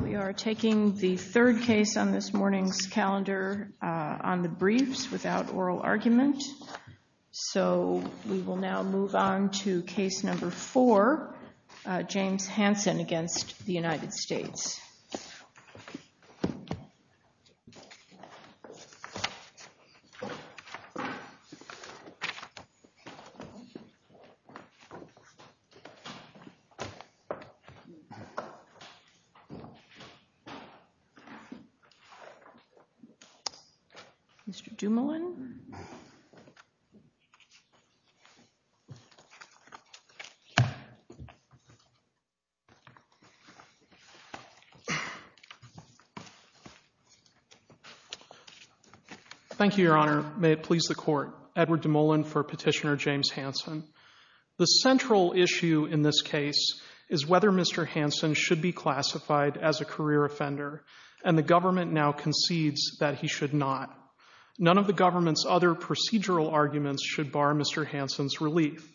We are taking the third case on this morning's calendar on the briefs without oral argument. So we will now move on to case number four, James Hanson v. United States. James Hanson v. United States. Thank you, Your Honor. May it please the Court. Edward DeMolin for Petitioner James Hanson. The central issue in this case is whether Mr. Hanson should be classified as a career offender, and the government now concedes that he should not. None of the government's other procedural arguments should bar Mr. Hanson's relief.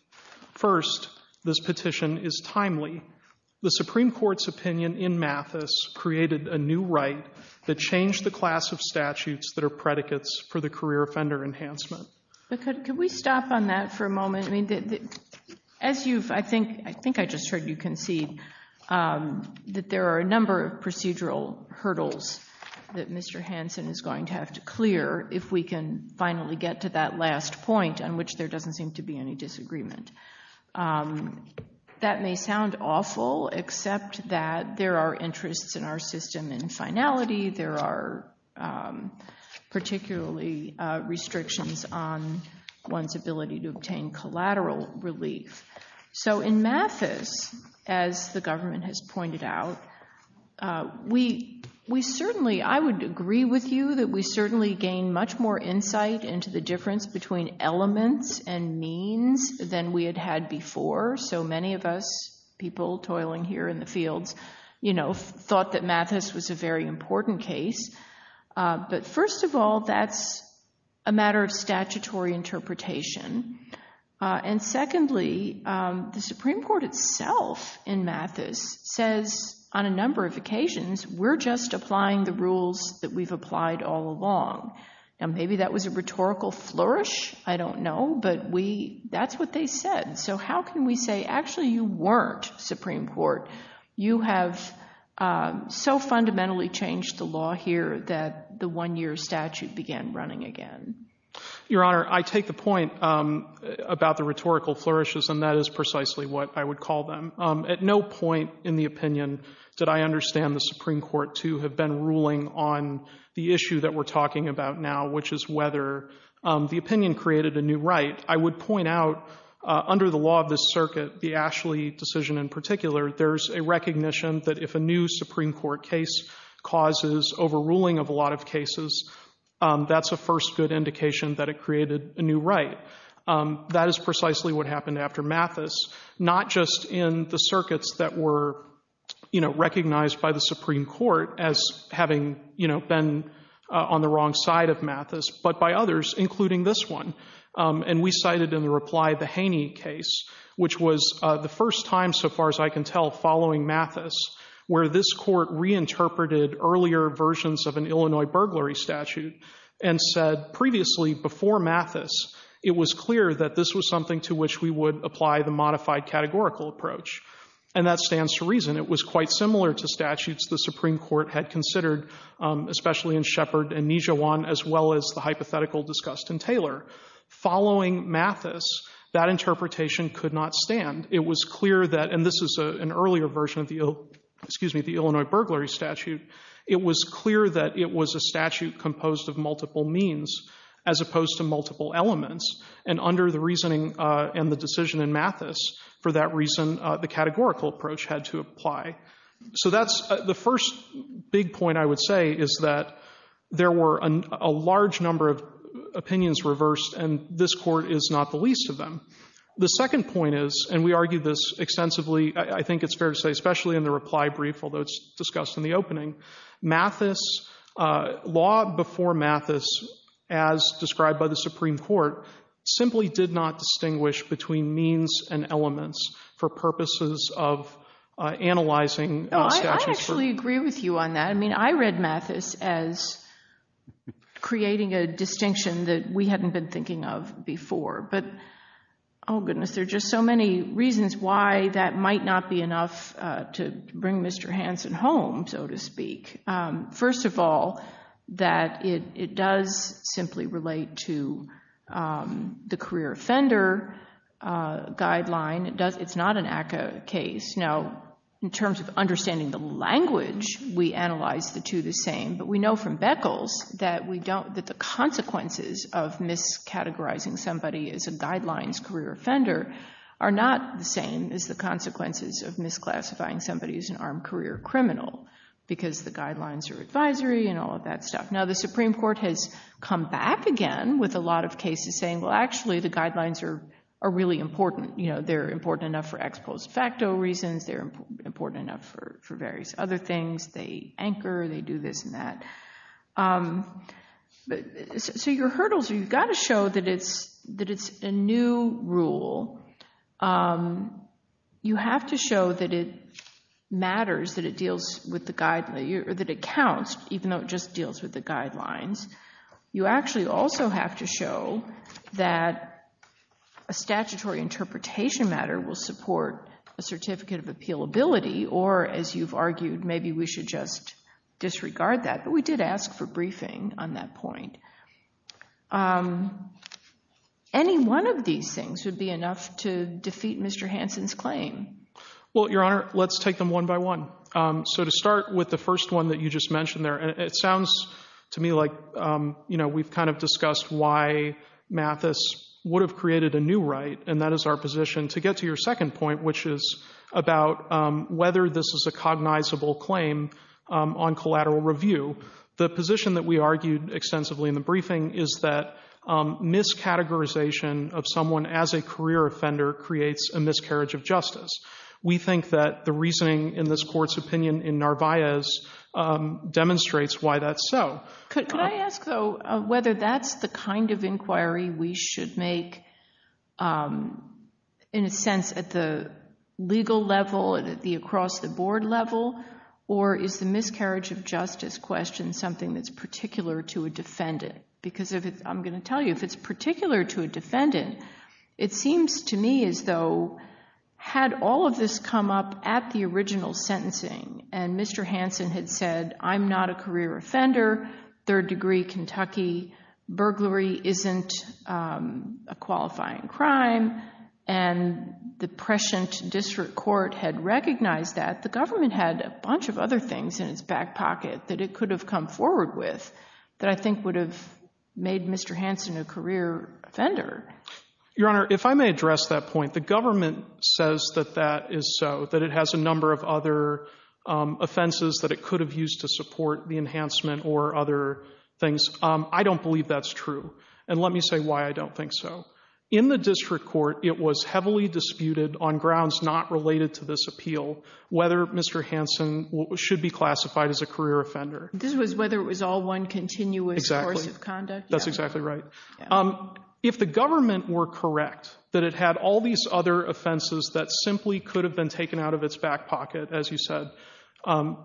First, this petition is timely. The Supreme Court's opinion in Mathis created a new right that changed the class of statutes that are predicates for the career offender enhancement. Could we stop on that for a moment? I mean, as you've, I think, I think I just heard you concede that there are a number of procedural hurdles that Mr. Hanson is going to have to clear if we can finally get to that last point on which there doesn't seem to be any disagreement. That may sound awful, except that there are interests in our system in finality. There are particularly restrictions on one's ability to obtain collateral relief. So in Mathis, as the government has pointed out, we certainly, I would agree with you, that we certainly gain much more insight into the difference between elements and means than we had had before. So many of us people toiling here in the fields, you know, thought that Mathis was a very important case. But first of all, that's a matter of statutory interpretation. And secondly, the Supreme Court itself in Mathis says on a number of occasions, we're just applying the rules that we've applied all along. Now, maybe that was a rhetorical flourish. I don't know. But we, that's what they said. So how can we say, actually, you weren't Supreme Court? You have so fundamentally changed the law here that the one-year statute began running again. Your Honor, I take the point about the rhetorical flourishes, and that is precisely what I would call them. At no point in the opinion did I understand the Supreme Court to have been ruling on the issue that we're talking about now, which is whether the opinion created a new right. I would point out, under the law of this circuit, the Ashley decision in particular, there's a recognition that if a new Supreme Court case causes overruling of a lot of cases, that's a first good indication that it created a new right. That is precisely what happened after Mathis. Not just in the circuits that were, you know, recognized by the Supreme Court as having, you know, been on the wrong side of Mathis, but by others, including this one. And we cited in the reply the Haney case, which was the first time, so far as I can tell, following Mathis where this court reinterpreted earlier versions of an Illinois burglary statute and said previously, before Mathis, it was clear that this was something to which we would apply the modified categorical approach. And that stands to reason. It was quite similar to statutes the Supreme Court had considered, especially in Shepard and Nijhawan, as well as the hypothetical discussed in Taylor. Following Mathis, that interpretation could not stand. It was clear that, and this is an earlier version of the Illinois burglary statute, it was clear that it was a statute composed of multiple means, as opposed to multiple elements. And under the reasoning and the decision in Mathis, for that reason, the categorical approach had to apply. So that's the first big point I would say, is that there were a large number of opinions reversed, and this court is not the least of them. The second point is, and we argued this extensively, I think it's fair to say, especially in the reply brief, although it's discussed in the opening, Mathis, law before Mathis, as described by the Supreme Court, simply did not distinguish between means and elements for purposes of analyzing statutes. I actually agree with you on that. I mean, I read Mathis as creating a distinction that we hadn't been thinking of before. But, oh goodness, there are just so many reasons why that might not be enough to bring Mr. Hansen home, so to speak. First of all, that it does simply relate to the career offender guideline. It's not an ACCA case. Now, in terms of understanding the language, we analyze the two the same, but we know from Beckles that the consequences of miscategorizing somebody as a guidelines career offender are not the same as the consequences of misclassifying somebody as an armed career criminal, because the guidelines are advisory and all of that stuff. Now, the Supreme Court has come back again with a lot of cases saying, well, actually the guidelines are really important. They're important enough for ex post facto reasons. They're important enough for various other things. They anchor, they do this and that. So your hurdles are you've got to show that it's a new rule. You have to show that it matters, that it counts, even though it just deals with the guidelines. You actually also have to show that a statutory interpretation matter will support a certificate of appealability, or as you've argued, maybe we should just disregard that. But we did ask for briefing on that point. Any one of these things would be enough to defeat Mr. Hansen's claim. Well, Your Honor, let's take them one by one. So to start with the first one that you just mentioned there, it sounds to me like we've kind of discussed why Mathis would have created a new right, and that is our position. To get to your second point, which is about whether this is a cognizable claim on collateral review, the position that we argued extensively in the briefing is that miscategorization of someone as a career offender creates a miscarriage of justice. We think that the reasoning in this court's opinion in Narvaez demonstrates why that's so. Could I ask, though, whether that's the kind of inquiry we should make, in a sense, at the legal level, at the across-the-board level, or is the miscarriage of justice question something that's particular to a defendant? Because I'm going to tell you, if it's particular to a defendant, it seems to me as though had all of this come up at the original sentencing and Mr. Hansen had said, I'm not a career offender, third degree Kentucky, burglary isn't a qualifying crime, and the prescient district court had recognized that, the government had a bunch of other things in its back pocket that it could have come forward with that I think would have made Mr. Hansen a career offender. Your Honor, if I may address that point, the government says that that is so, that it has a number of other offenses that it could have used to support the enhancement or other things. I don't believe that's true, and let me say why I don't think so. In the district court, it was heavily disputed on grounds not related to this appeal whether Mr. Hansen should be classified as a career offender. This was whether it was all one continuous course of conduct? Exactly. That's exactly right. If the government were correct that it had all these other offenses that simply could have been taken out of its back pocket, as you said,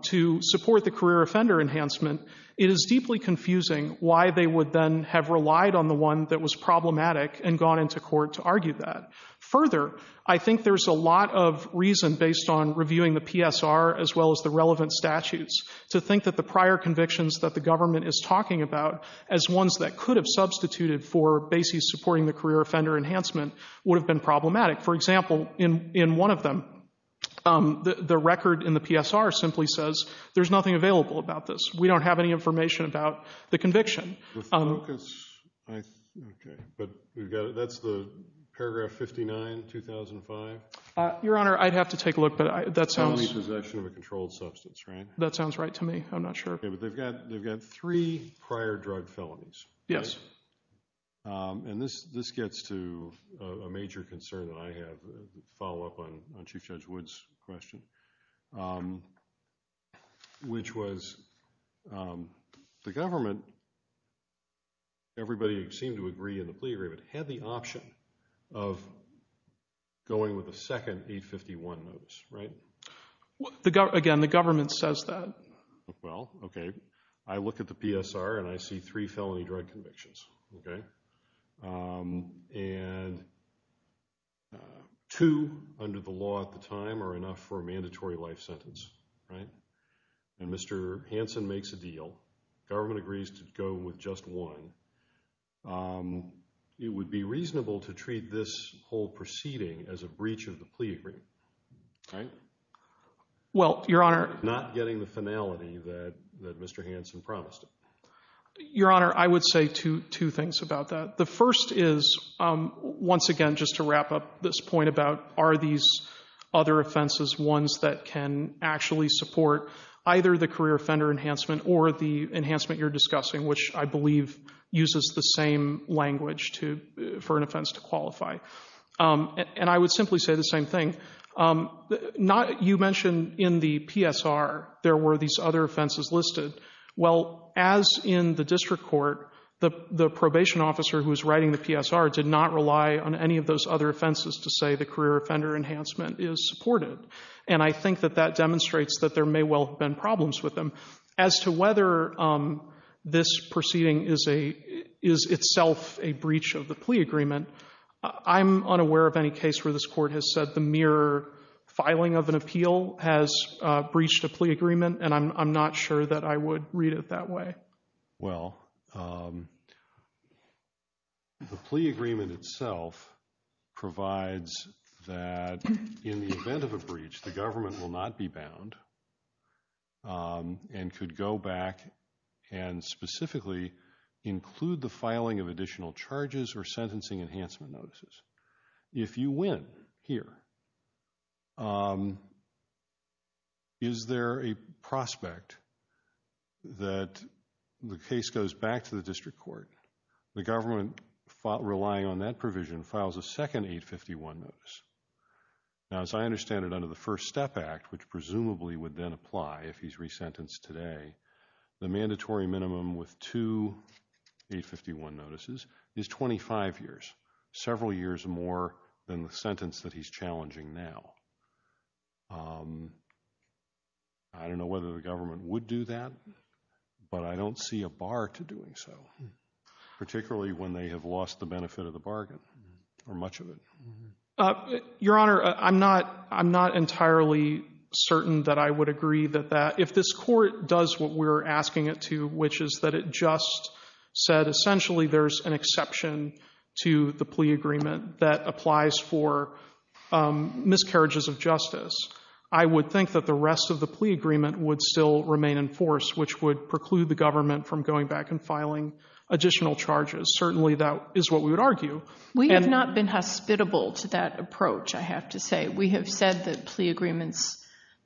to support the career offender enhancement, it is deeply confusing why they would then have relied on the one that was problematic and gone into court to argue that. Further, I think there's a lot of reason based on reviewing the PSR as well as the relevant statutes to think that the prior convictions that the government is talking about as ones that could have substituted for bases supporting the career offender enhancement would have been problematic. For example, in one of them, the record in the PSR simply says, there's nothing available about this. We don't have any information about the conviction. But that's the paragraph 59, 2005? Your Honor, I'd have to take a look, but that sounds— Only possession of a controlled substance, right? That sounds right to me. I'm not sure. Okay, but they've got three prior drug felonies. Yes. And this gets to a major concern that I have, a follow-up on Chief Judge Wood's question, which was the government, everybody seemed to agree in the plea agreement, had the option of going with a second 851 notice, right? Again, the government says that. Well, okay, I look at the PSR and I see three felony drug convictions, okay? And two under the law at the time are enough for a mandatory life sentence, right? And Mr. Hansen makes a deal. Government agrees to go with just one. It would be reasonable to treat this whole proceeding as a breach of the plea agreement, right? Well, Your Honor— Not getting the finality that Mr. Hansen promised. Your Honor, I would say two things about that. The first is, once again, just to wrap up this point about are these other offenses ones that can actually support either the career offender enhancement or the enhancement you're discussing, which I believe uses the same language for an offense to qualify. And I would simply say the same thing. You mentioned in the PSR there were these other offenses listed. Well, as in the district court, the probation officer who was writing the PSR did not rely on any of those other offenses to say the career offender enhancement is supported. And I think that that demonstrates that there may well have been problems with them. As to whether this proceeding is itself a breach of the plea agreement, I'm unaware of any case where this court has said the mere filing of an appeal has breached a plea agreement, and I'm not sure that I would read it that way. Well, the plea agreement itself provides that in the event of a breach, the government will not be bound and could go back and specifically include the filing of additional charges or sentencing enhancement notices. If you win here, is there a prospect that the case goes back to the district court? The government, relying on that provision, files a second 851 notice. Now, as I understand it, under the First Step Act, which presumably would then apply if he's resentenced today, the mandatory minimum with two 851 notices is 25 years, several years more than the sentence that he's challenging now. I don't know whether the government would do that, but I don't see a bar to doing so, particularly when they have lost the benefit of the bargain or much of it. Your Honor, I'm not entirely certain that I would agree with that. If this court does what we're asking it to, which is that it just said essentially there's an exception to the plea agreement that applies for miscarriages of justice, I would think that the rest of the plea agreement would still remain in force, which would preclude the government from going back and filing additional charges. Certainly that is what we would argue. We have not been hospitable to that approach, I have to say. We have said that plea agreements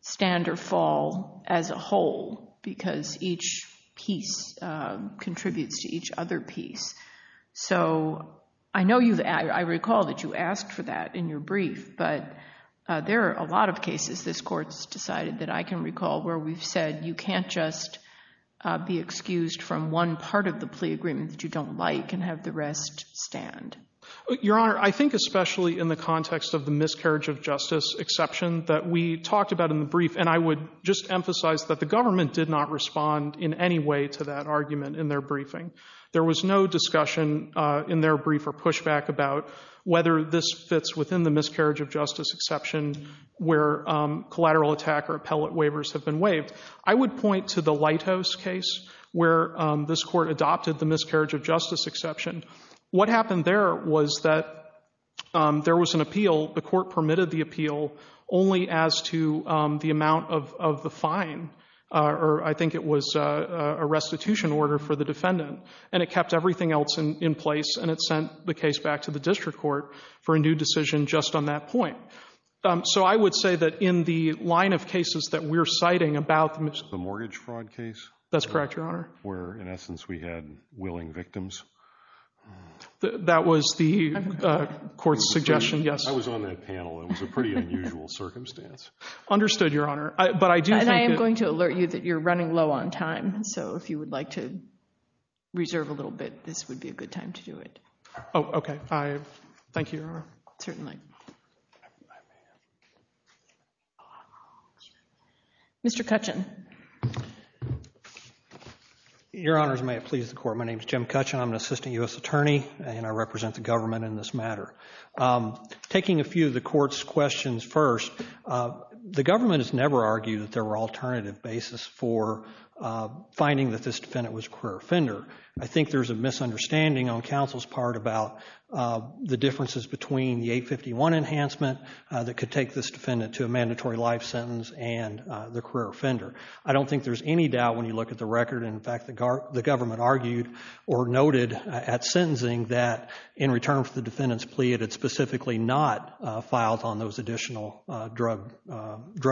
stand or fall as a whole because each piece contributes to each other piece. So I know I recall that you asked for that in your brief, but there are a lot of cases this court's decided that I can recall where we've said you can't just be excused from one part of the plea agreement that you don't like and have the rest stand. Your Honor, I think especially in the context of the miscarriage of justice exception that we talked about in the brief, and I would just emphasize that the government did not respond in any way to that argument in their briefing. There was no discussion in their brief or pushback about whether this fits within the miscarriage of justice exception where collateral attack or appellate waivers have been waived. I would point to the Lighthouse case where this court adopted the miscarriage of justice exception. What happened there was that there was an appeal, the court permitted the appeal only as to the amount of the fine, or I think it was a restitution order for the defendant, and it kept everything else in place and it sent the case back to the district court for a new decision just on that point. So I would say that in the line of cases that we're citing about... The mortgage fraud case? That's correct, Your Honor. Where, in essence, we had willing victims? That was the court's suggestion, yes. I was on that panel. It was a pretty unusual circumstance. Understood, Your Honor. And I am going to alert you that you're running low on time, so if you would like to reserve a little bit, this would be a good time to do it. Oh, okay. Thank you, Your Honor. Certainly. Mr. Kutchin. Your Honors, may it please the Court. My name is Jim Kutchin. I'm an assistant U.S. attorney, and I represent the government in this matter. Taking a few of the Court's questions first, the government has never argued that there were alternative basis for finding that this defendant was a queer offender. I think there's a misunderstanding on counsel's part about the differences between the 851 enhancement that could take this defendant to a mandatory life sentence and the queer offender. I don't think there's any doubt when you look at the record. In fact, the government argued or noted at sentencing that in return for the defendant's plea, it had specifically not filed on those additional drug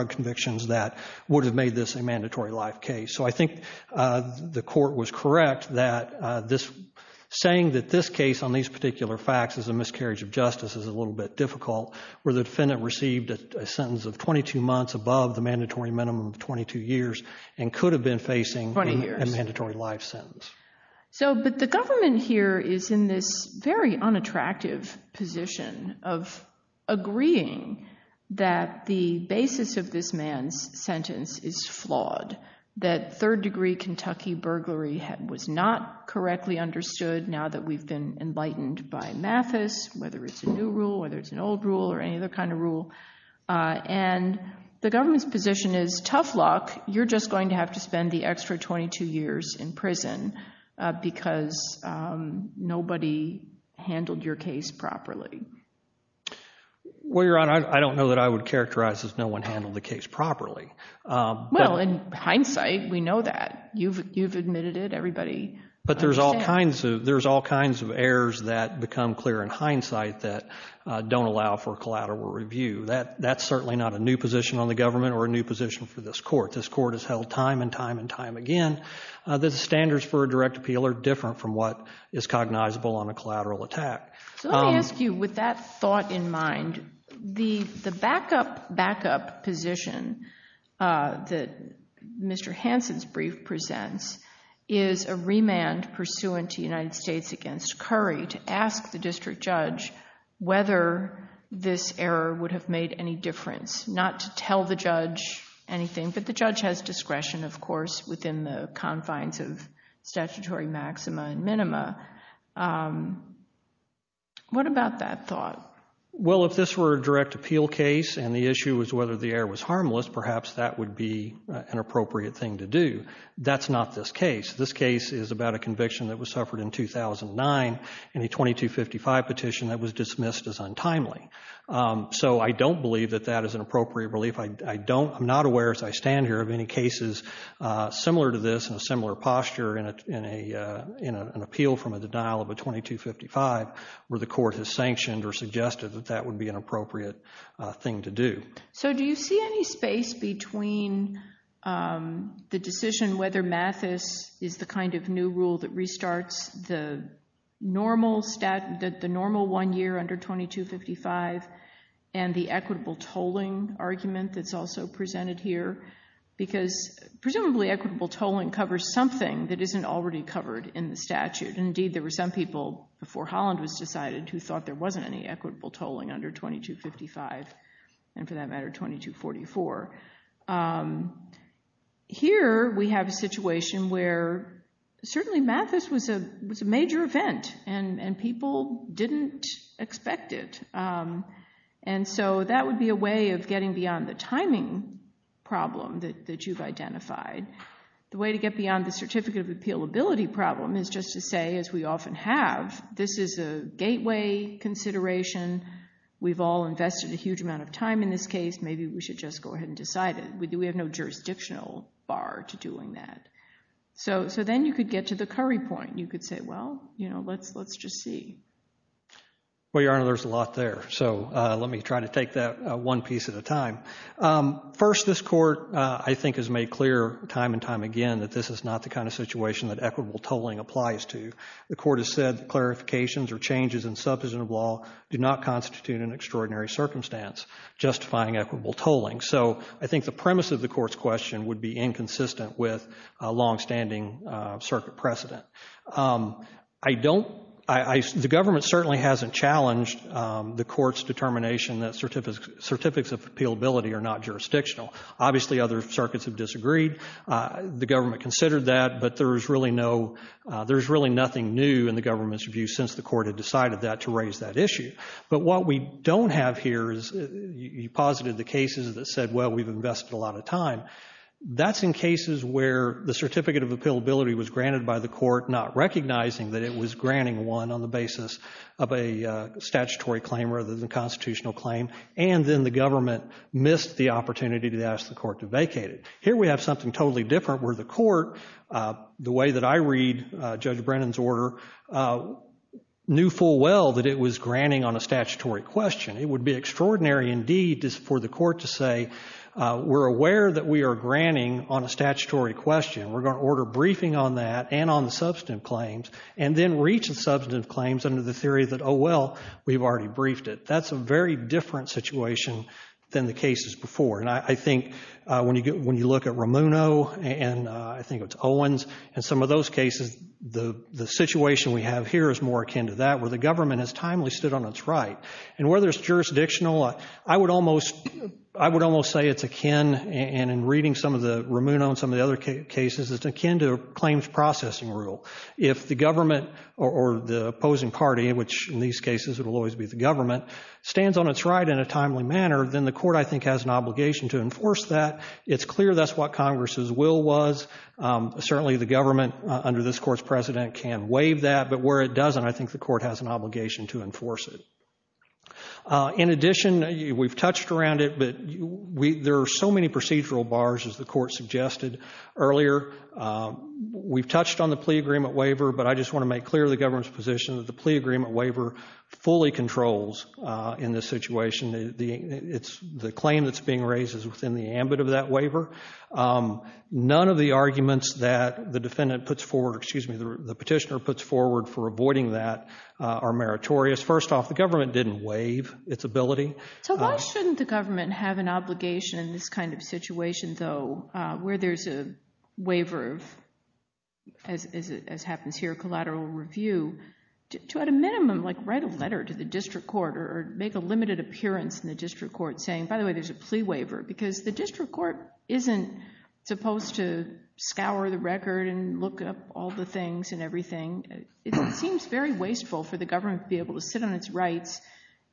convictions that would have made this a mandatory life case. So I think the Court was correct that saying that this case on these particular facts is a miscarriage of justice is a little bit difficult, where the defendant received a sentence of 22 months above the mandatory minimum of 22 years and could have been facing a mandatory life sentence. But the government here is in this very unattractive position of agreeing that the basis of this man's sentence is flawed, that third-degree Kentucky burglary was not correctly understood now that we've been enlightened by Mathis, whether it's a new rule, whether it's an old rule, or any other kind of rule. And the government's position is, tough luck, you're just going to have to spend the extra 22 years in prison because nobody handled your case properly. Well, Your Honor, I don't know that I would characterize as no one handled the case properly. Well, in hindsight, we know that. You've admitted it, everybody. But there's all kinds of errors that become clear in hindsight that don't allow for collateral review. That's certainly not a new position on the government or a new position for this Court. This Court has held time and time and time again that the standards for a direct appeal are different from what is cognizable on a collateral attack. So let me ask you, with that thought in mind, the backup position that Mr. Hansen's brief presents is a remand pursuant to United States against Curry to ask the district judge whether this error would have made any difference, not to tell the judge anything, but the judge has discretion, of course, within the confines of statutory maxima and minima. What about that thought? Well, if this were a direct appeal case and the issue was whether the error was harmless, perhaps that would be an appropriate thing to do. That's not this case. This case is about a conviction that was suffered in 2009 in a 2255 petition that was dismissed as untimely. So I don't believe that that is an appropriate relief. I'm not aware as I stand here of any cases similar to this in a similar posture in an appeal from a denial of a 2255 where the court has sanctioned or suggested that that would be an appropriate thing to do. So do you see any space between the decision whether Mathis is the kind of new rule that restarts the normal one year under 2255 and the equitable tolling argument that's also presented here? Because presumably equitable tolling covers something that isn't already covered in the statute. Indeed, there were some people before Holland was decided who thought there wasn't any equitable tolling under 2255 and, for that matter, 2244. Here we have a situation where certainly Mathis was a major event and people didn't expect it. And so that would be a way of getting beyond the timing problem that you've identified. The way to get beyond the certificate of appealability problem is just to say, as we often have, this is a gateway consideration. We've all invested a huge amount of time in this case. Maybe we should just go ahead and decide it. We have no jurisdictional bar to doing that. So then you could get to the curry point. You could say, well, you know, let's just see. Well, Your Honor, there's a lot there, so let me try to take that one piece at a time. First, this Court, I think, has made clear time and time again that this is not the kind of situation that equitable tolling applies to. The Court has said that clarifications or changes in substantive law do not constitute an extraordinary circumstance justifying equitable tolling. So I think the premise of the Court's question would be inconsistent with a longstanding circuit precedent. The government certainly hasn't challenged the Court's determination that certificates of appealability are not jurisdictional. Obviously, other circuits have disagreed. The government considered that, but there's really nothing new in the government's view since the Court had decided that to raise that issue. But what we don't have here is you posited the cases that said, well, we've invested a lot of time. That's in cases where the certificate of appealability was granted by the Court, not recognizing that it was granting one on the basis of a statutory claim rather than a constitutional claim, and then the government missed the opportunity to ask the Court to vacate it. Here we have something totally different where the Court, the way that I read Judge Brennan's order, knew full well that it was granting on a statutory question. It would be extraordinary indeed for the Court to say, we're aware that we are granting on a statutory question. We're going to order a briefing on that and on the substantive claims and then reach the substantive claims under the theory that, oh, well, we've already briefed it. That's a very different situation than the cases before. And I think when you look at Ramuno and I think it's Owens and some of those cases, the situation we have here is more akin to that, where the government has timely stood on its right. And whether it's jurisdictional, I would almost say it's akin, and in reading some of the Ramuno and some of the other cases, it's akin to a claims processing rule. If the government or the opposing party, which in these cases it will always be the government, stands on its right in a timely manner, then the Court, I think, has an obligation to enforce that. It's clear that's what Congress's will was. Certainly the government under this Court's precedent can waive that, but where it doesn't, I think the Court has an obligation to enforce it. In addition, we've touched around it, but there are so many procedural bars, as the Court suggested earlier. We've touched on the plea agreement waiver, but I just want to make clear the government's position that the plea agreement waiver fully controls in this situation. The claim that's being raised is within the ambit of that waiver. None of the arguments that the petitioner puts forward for avoiding that are meritorious. First off, the government didn't waive its ability. So why shouldn't the government have an obligation in this kind of situation, though, where there's a waiver of, as happens here, collateral review, to at a minimum write a letter to the district court or make a limited appearance in the district court saying, by the way, there's a plea waiver? Because the district court isn't supposed to scour the record and look up all the things and everything. It seems very wasteful for the government to be able to sit on its rights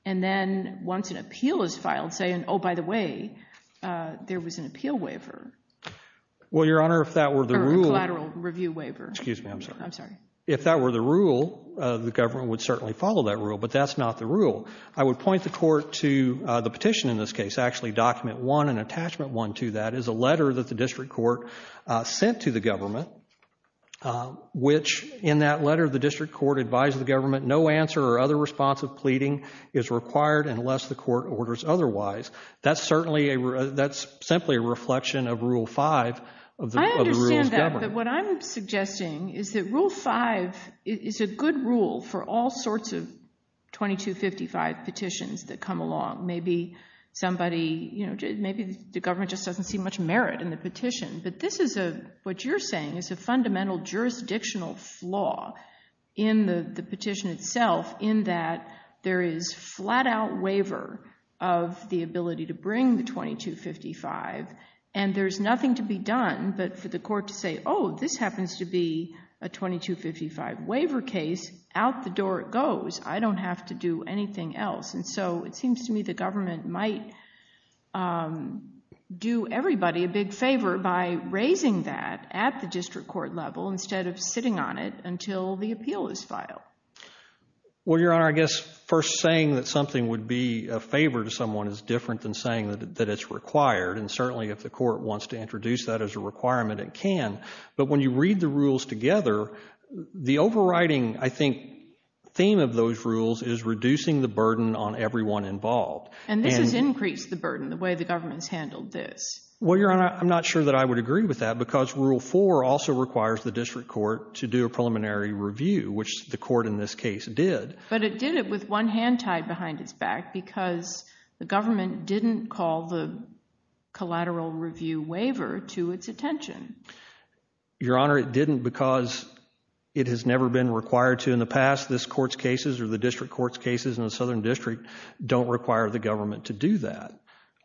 and then, once an appeal is filed, say, oh, by the way, there was an appeal waiver. Well, Your Honor, if that were the rule... Or a collateral review waiver. Excuse me, I'm sorry. I'm sorry. If that were the rule, the government would certainly follow that rule, but that's not the rule. I would point the court to the petition in this case. Actually, Document 1 and Attachment 1 to that is a letter that the district court sent to the government, which in that letter the district court advised the government no answer or other response of pleading is required unless the court orders otherwise. That's simply a reflection of Rule 5 of the rules governed. I understand that, but what I'm suggesting is that Rule 5 is a good rule for all sorts of 2255 petitions that come along. Maybe somebody, you know, maybe the government just doesn't see much merit in the petition, but this is a, what you're saying, is a fundamental jurisdictional flaw in the petition itself in that there is flat-out waiver of the ability to bring the 2255, and there's nothing to be done but for the court to say, oh, this happens to be a 2255 waiver case, out the door it goes. I don't have to do anything else. And so it seems to me the government might do everybody a big favor by raising that at the district court level instead of sitting on it until the appeal is filed. Well, Your Honor, I guess first saying that something would be a favor to someone is different than saying that it's required, and certainly if the court wants to introduce that as a requirement, it can. But when you read the rules together, the overriding, I think, theme of those rules is reducing the burden on everyone involved. And this has increased the burden, the way the government has handled this. Well, Your Honor, I'm not sure that I would agree with that because Rule 4 also requires the district court to do a preliminary review, which the court in this case did. But it did it with one hand tied behind its back because the government didn't call the collateral review waiver to its attention. Your Honor, it didn't because it has never been required to in the past. This court's cases or the district court's cases in the Southern District don't require the government to do that.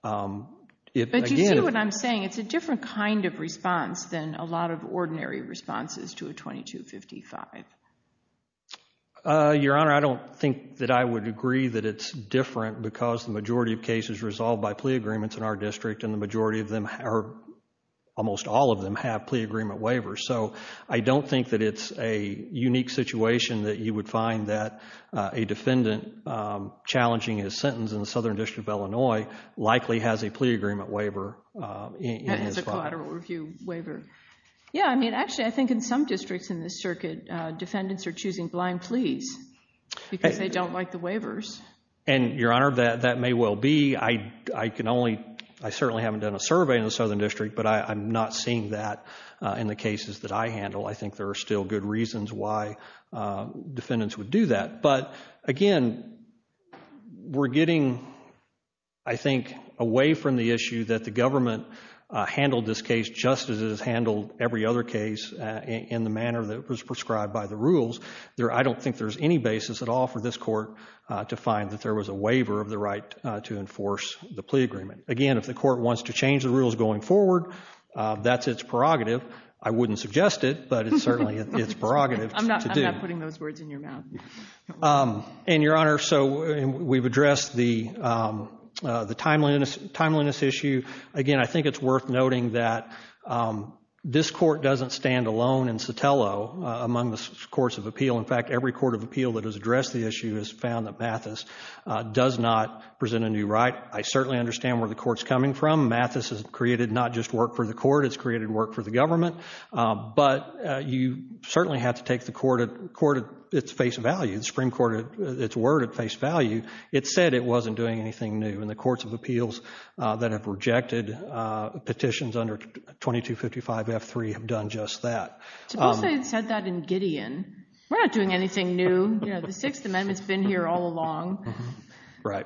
But do you see what I'm saying? It's a different kind of response than a lot of ordinary responses to a 2255. Your Honor, I don't think that I would agree that it's different because the majority of cases resolved by plea agreements in our district and the majority of them, or almost all of them, have plea agreement waivers. So I don't think that it's a unique situation that you would find that a defendant challenging his sentence in the Southern District of Illinois likely has a plea agreement waiver in his file. It's a collateral review waiver. Actually, I think in some districts in this circuit, defendants are choosing blind pleas because they don't like the waivers. Your Honor, that may well be. I certainly haven't done a survey in the Southern District, but I'm not seeing that in the cases that I handle. I think there are still good reasons why defendants would do that. But again, we're getting, I think, away from the issue that the government handled this case just as it has handled every other case in the manner that was prescribed by the rules. I don't think there's any basis at all for this court to find that there was a waiver of the right to enforce the plea agreement. Again, if the court wants to change the rules going forward, that's its prerogative. I wouldn't suggest it, but it's certainly its prerogative to do. I'm not putting those words in your mouth. And, Your Honor, so we've addressed the timeliness issue. Again, I think it's worth noting that this court doesn't stand alone in Sotelo among the courts of appeal. In fact, every court of appeal that has addressed the issue has found that Mathis does not present a new right. I certainly understand where the court's coming from. Mathis has created not just work for the court, it's created work for the government. But you certainly have to take the court at its face value, the Supreme Court at its word at face value. It said it wasn't doing anything new, and the courts of appeals that have rejected petitions under 2255F3 have done just that. Suppose they had said that in Gideon. We're not doing anything new. The Sixth Amendment's been here all along. Right.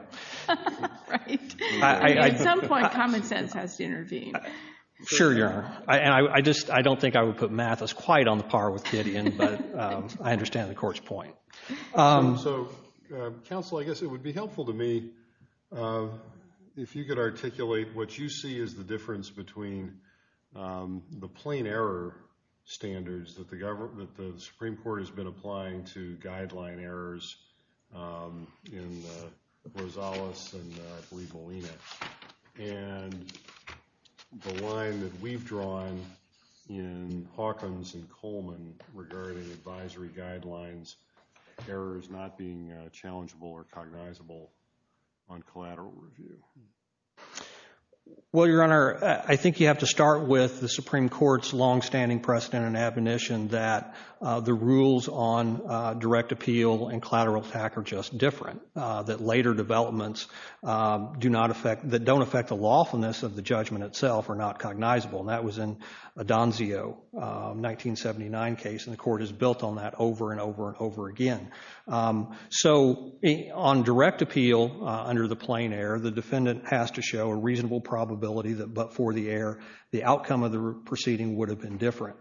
Right. At some point, common sense has to intervene. Sure, Your Honor. I don't think I would put Mathis quite on par with Gideon, but I understand the court's point. So, counsel, I guess it would be helpful to me if you could articulate what you see is the difference between the plain error standards that the Supreme Court has been applying to guideline errors in Rosales and Bribolina, and the line that we've drawn in Hawkins and Coleman regarding advisory guidelines, errors not being challengeable or cognizable on collateral review. Well, Your Honor, I think you have to start with the Supreme Court's longstanding precedent and admonition that the rules on direct appeal and collateral attack are just different, that later developments that don't affect the lawfulness of the judgment itself are not cognizable. And that was in a Donzio 1979 case, and the court has built on that over and over and over again. So, on direct appeal under the plain error, the defendant has to show a reasonable probability that, but for the error, the outcome of the proceeding would have been different.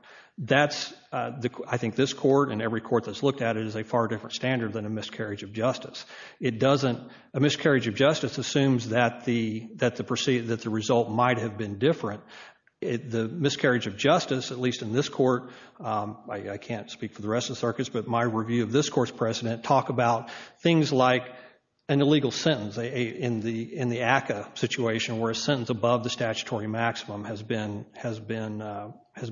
I think this court and every court that's looked at it is a far different standard than a miscarriage of justice. A miscarriage of justice assumes that the result might have been different. The miscarriage of justice, at least in this court, I can't speak for the rest of the circuits, but my review of this court's precedent, talk about things like an illegal sentence in the ACCA situation where a sentence above the statutory maximum has been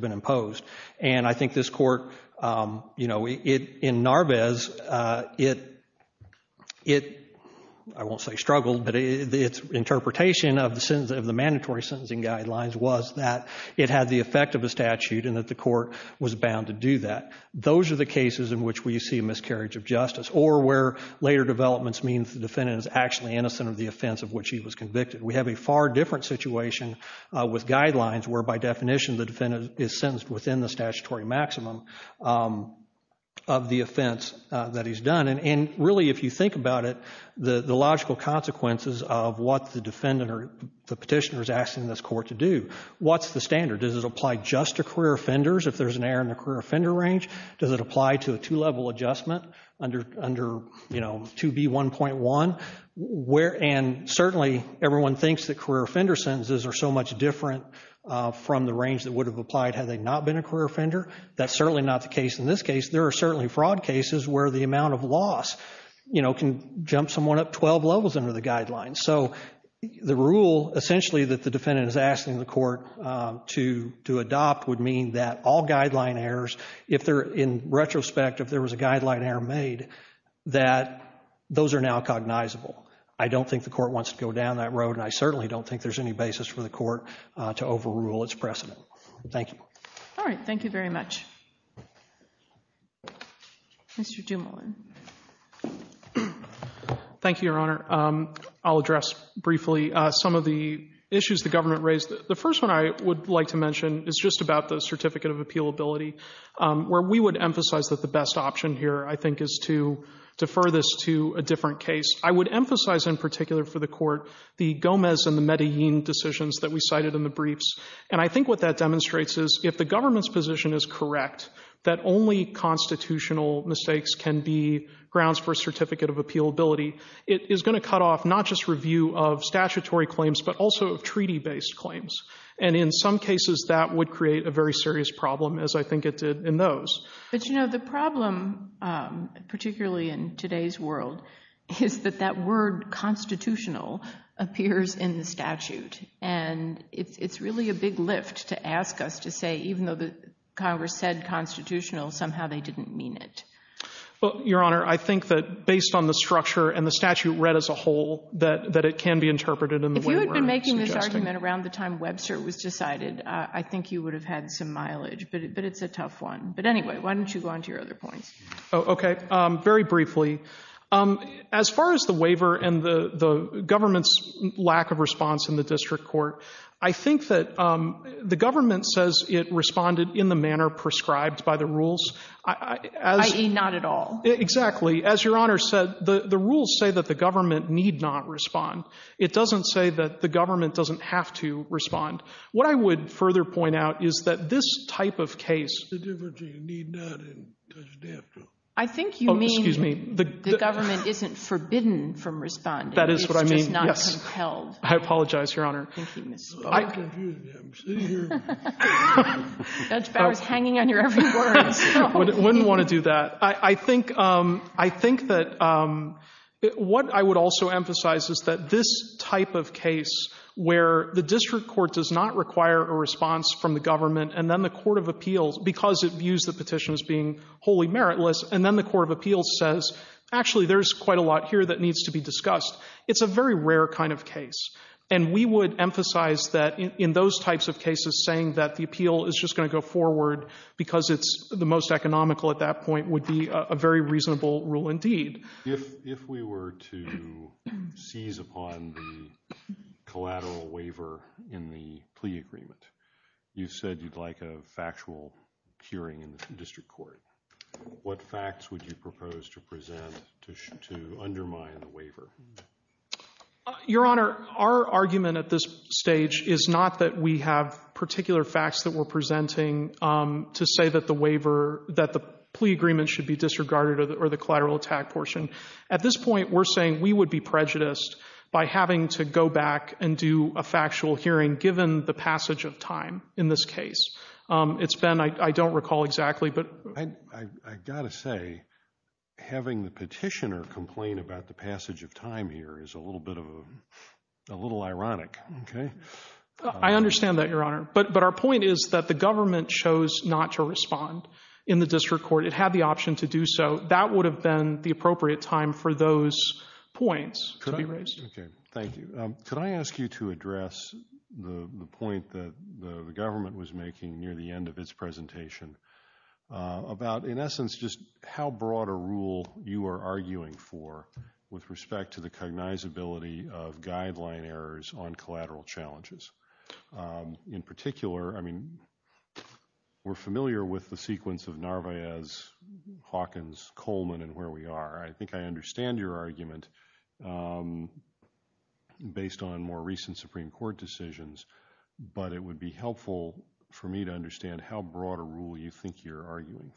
imposed. And I think this court, you know, in Narvez, it, I won't say struggled, but its interpretation of the mandatory sentencing guidelines was that it had the effect of a statute and that the court was bound to do that. Those are the cases in which we see a miscarriage of justice or where later developments mean the defendant is actually innocent of the offense of which he was convicted. We have a far different situation with guidelines where by definition the defendant is sentenced within the statutory maximum of the offense that he's done. And really, if you think about it, the logical consequences of what the defendant or the petitioner is asking this court to do, what's the standard? Does it apply just to career offenders if there's an error in the career offender range? Does it apply to a two-level adjustment under, you know, 2B1.1? And certainly everyone thinks that career offender sentences are so much different from the range that would have applied had they not been a career offender. That's certainly not the case in this case. There are certainly fraud cases where the amount of loss, you know, can jump someone up 12 levels under the guidelines. So the rule essentially that the defendant is asking the court to adopt would mean that all guideline errors, if they're in retrospect, if there was a guideline error made, that those are now cognizable. I don't think the court wants to go down that road and I certainly don't think there's any basis for the court to overrule its precedent. Thank you. All right, thank you very much. Mr. Dumoulin. Thank you, Your Honor. I'll address briefly some of the issues the government raised. The first one I would like to mention is just about the certificate of appealability, where we would emphasize that the best option here, I think, is to defer this to a different case. I would emphasize in particular for the court the Gomez and the Medellin decisions that we cited in the briefs, and I think what that demonstrates is if the government's position is correct, that only constitutional mistakes can be grounds for a certificate of appealability, it is going to cut off not just review of statutory claims but also of treaty-based claims, and in some cases that would create a very serious problem, as I think it did in those. But, you know, the problem, particularly in today's world, is that that word constitutional appears in the statute, and it's really a big lift to ask us to say, even though Congress said constitutional, somehow they didn't mean it. Well, Your Honor, I think that based on the structure and the statute read as a whole, that it can be interpreted in the way we're suggesting. If you had been making this argument around the time Webster was decided, I think you would have had some mileage, but it's a tough one. But anyway, why don't you go on to your other points. Okay, very briefly. As far as the waiver and the government's lack of response in the district court, I think that the government says it responded in the manner prescribed by the rules. I.e., not at all. Exactly. As Your Honor said, the rules say that the government need not respond. It doesn't say that the government doesn't have to respond. What I would further point out is that this type of case— The difference is you need not and doesn't have to. Oh, excuse me. I think you mean the government isn't forbidden from responding. That is what I mean, yes. It's just not compelled. I apologize, Your Honor. I'm confused. I'm sitting here. Judge Bauer is hanging on your every word. I wouldn't want to do that. I think that what I would also emphasize is that this type of case where the district court does not require a response from the government and then the court of appeals, because it views the petition as being wholly meritless, and then the court of appeals says, actually there's quite a lot here that needs to be discussed, it's a very rare kind of case. And we would emphasize that in those types of cases, saying that the appeal is just going to go forward because it's the most economical at that point would be a very reasonable rule indeed. If we were to seize upon the collateral waiver in the plea agreement, you said you'd like a factual hearing in the district court. Your Honor, our argument at this stage is not that we have particular facts that we're presenting to say that the waiver, that the plea agreement should be disregarded or the collateral attack portion. At this point, we're saying we would be prejudiced by having to go back and do a factual hearing given the passage of time in this case. It's been, I don't recall exactly. I've got to say, having the petitioner complain about the passage of time here is a little ironic. I understand that, Your Honor, but our point is that the government chose not to respond in the district court. It had the option to do so. That would have been the appropriate time for those points to be raised. Thank you. Could I ask you to address the point that the government was making near the end of its presentation about, in essence, just how broad a rule you are arguing for with respect to the cognizability of guideline errors on collateral challenges. In particular, I mean, we're familiar with the sequence of Narvaez, Hawkins, Coleman, and where we are. I think I understand your argument based on more recent Supreme Court decisions, but it would be helpful for me to understand how broad a rule you think you're making.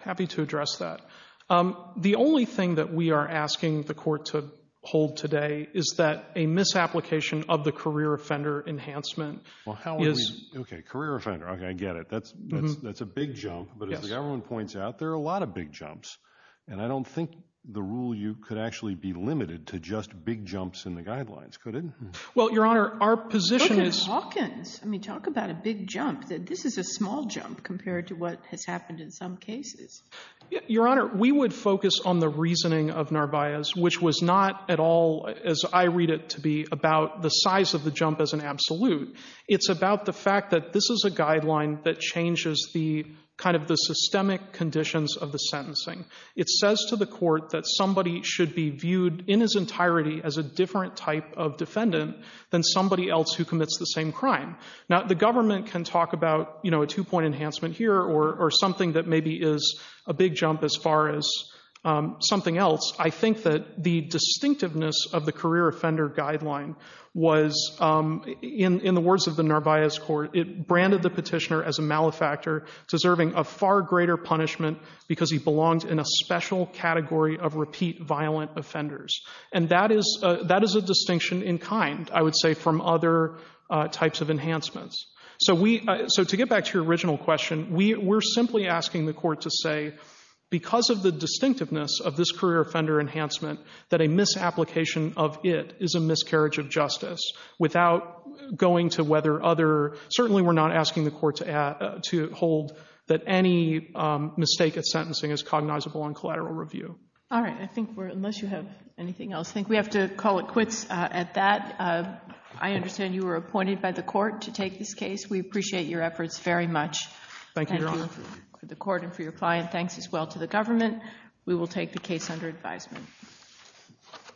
Happy to address that. The only thing that we are asking the court to hold today is that a misapplication of the career offender enhancement. Okay, career offender. Okay, I get it. That's a big jump, but as the government points out, there are a lot of big jumps, and I don't think the rule you could actually be limited to just big jumps in the guidelines, could it? Well, Your Honor, our position is. Hawkins, I mean, talk about a big jump. This is a small jump compared to what has happened in some cases. Your Honor, we would focus on the reasoning of Narvaez, which was not at all, as I read it to be about the size of the jump as an absolute. It's about the fact that this is a guideline that changes the kind of the systemic conditions of the sentencing. It says to the court that somebody should be viewed in his entirety as a different type of defendant than somebody else who commits the same crime. Now, the government can talk about, you know, a two point enhancement here or, or something that maybe is a big jump as far as something else. I think that the distinctiveness of the career offender guideline was in, in the words of the Narvaez court, it branded the petitioner as a malefactor deserving of far greater punishment because he belongs in a special category of repeat violent offenders. And that is, that is a distinction in kind, I would say from other types of enhancements. So we, so to get back to your original question, we were simply asking the court to say, because of the distinctiveness of this career offender enhancement, that a misapplication of it is a miscarriage of justice without going to whether other, certainly we're not asking the court to add, to hold that any mistake at sentencing is cognizable on collateral review. All right. I think we're, unless you have anything else, I think we have to call it quits at that. I understand you were appointed by the court to take this case. We appreciate your efforts very much. Thank you. For the court and for your client. Thanks as well to the government. We will take the case under advisement.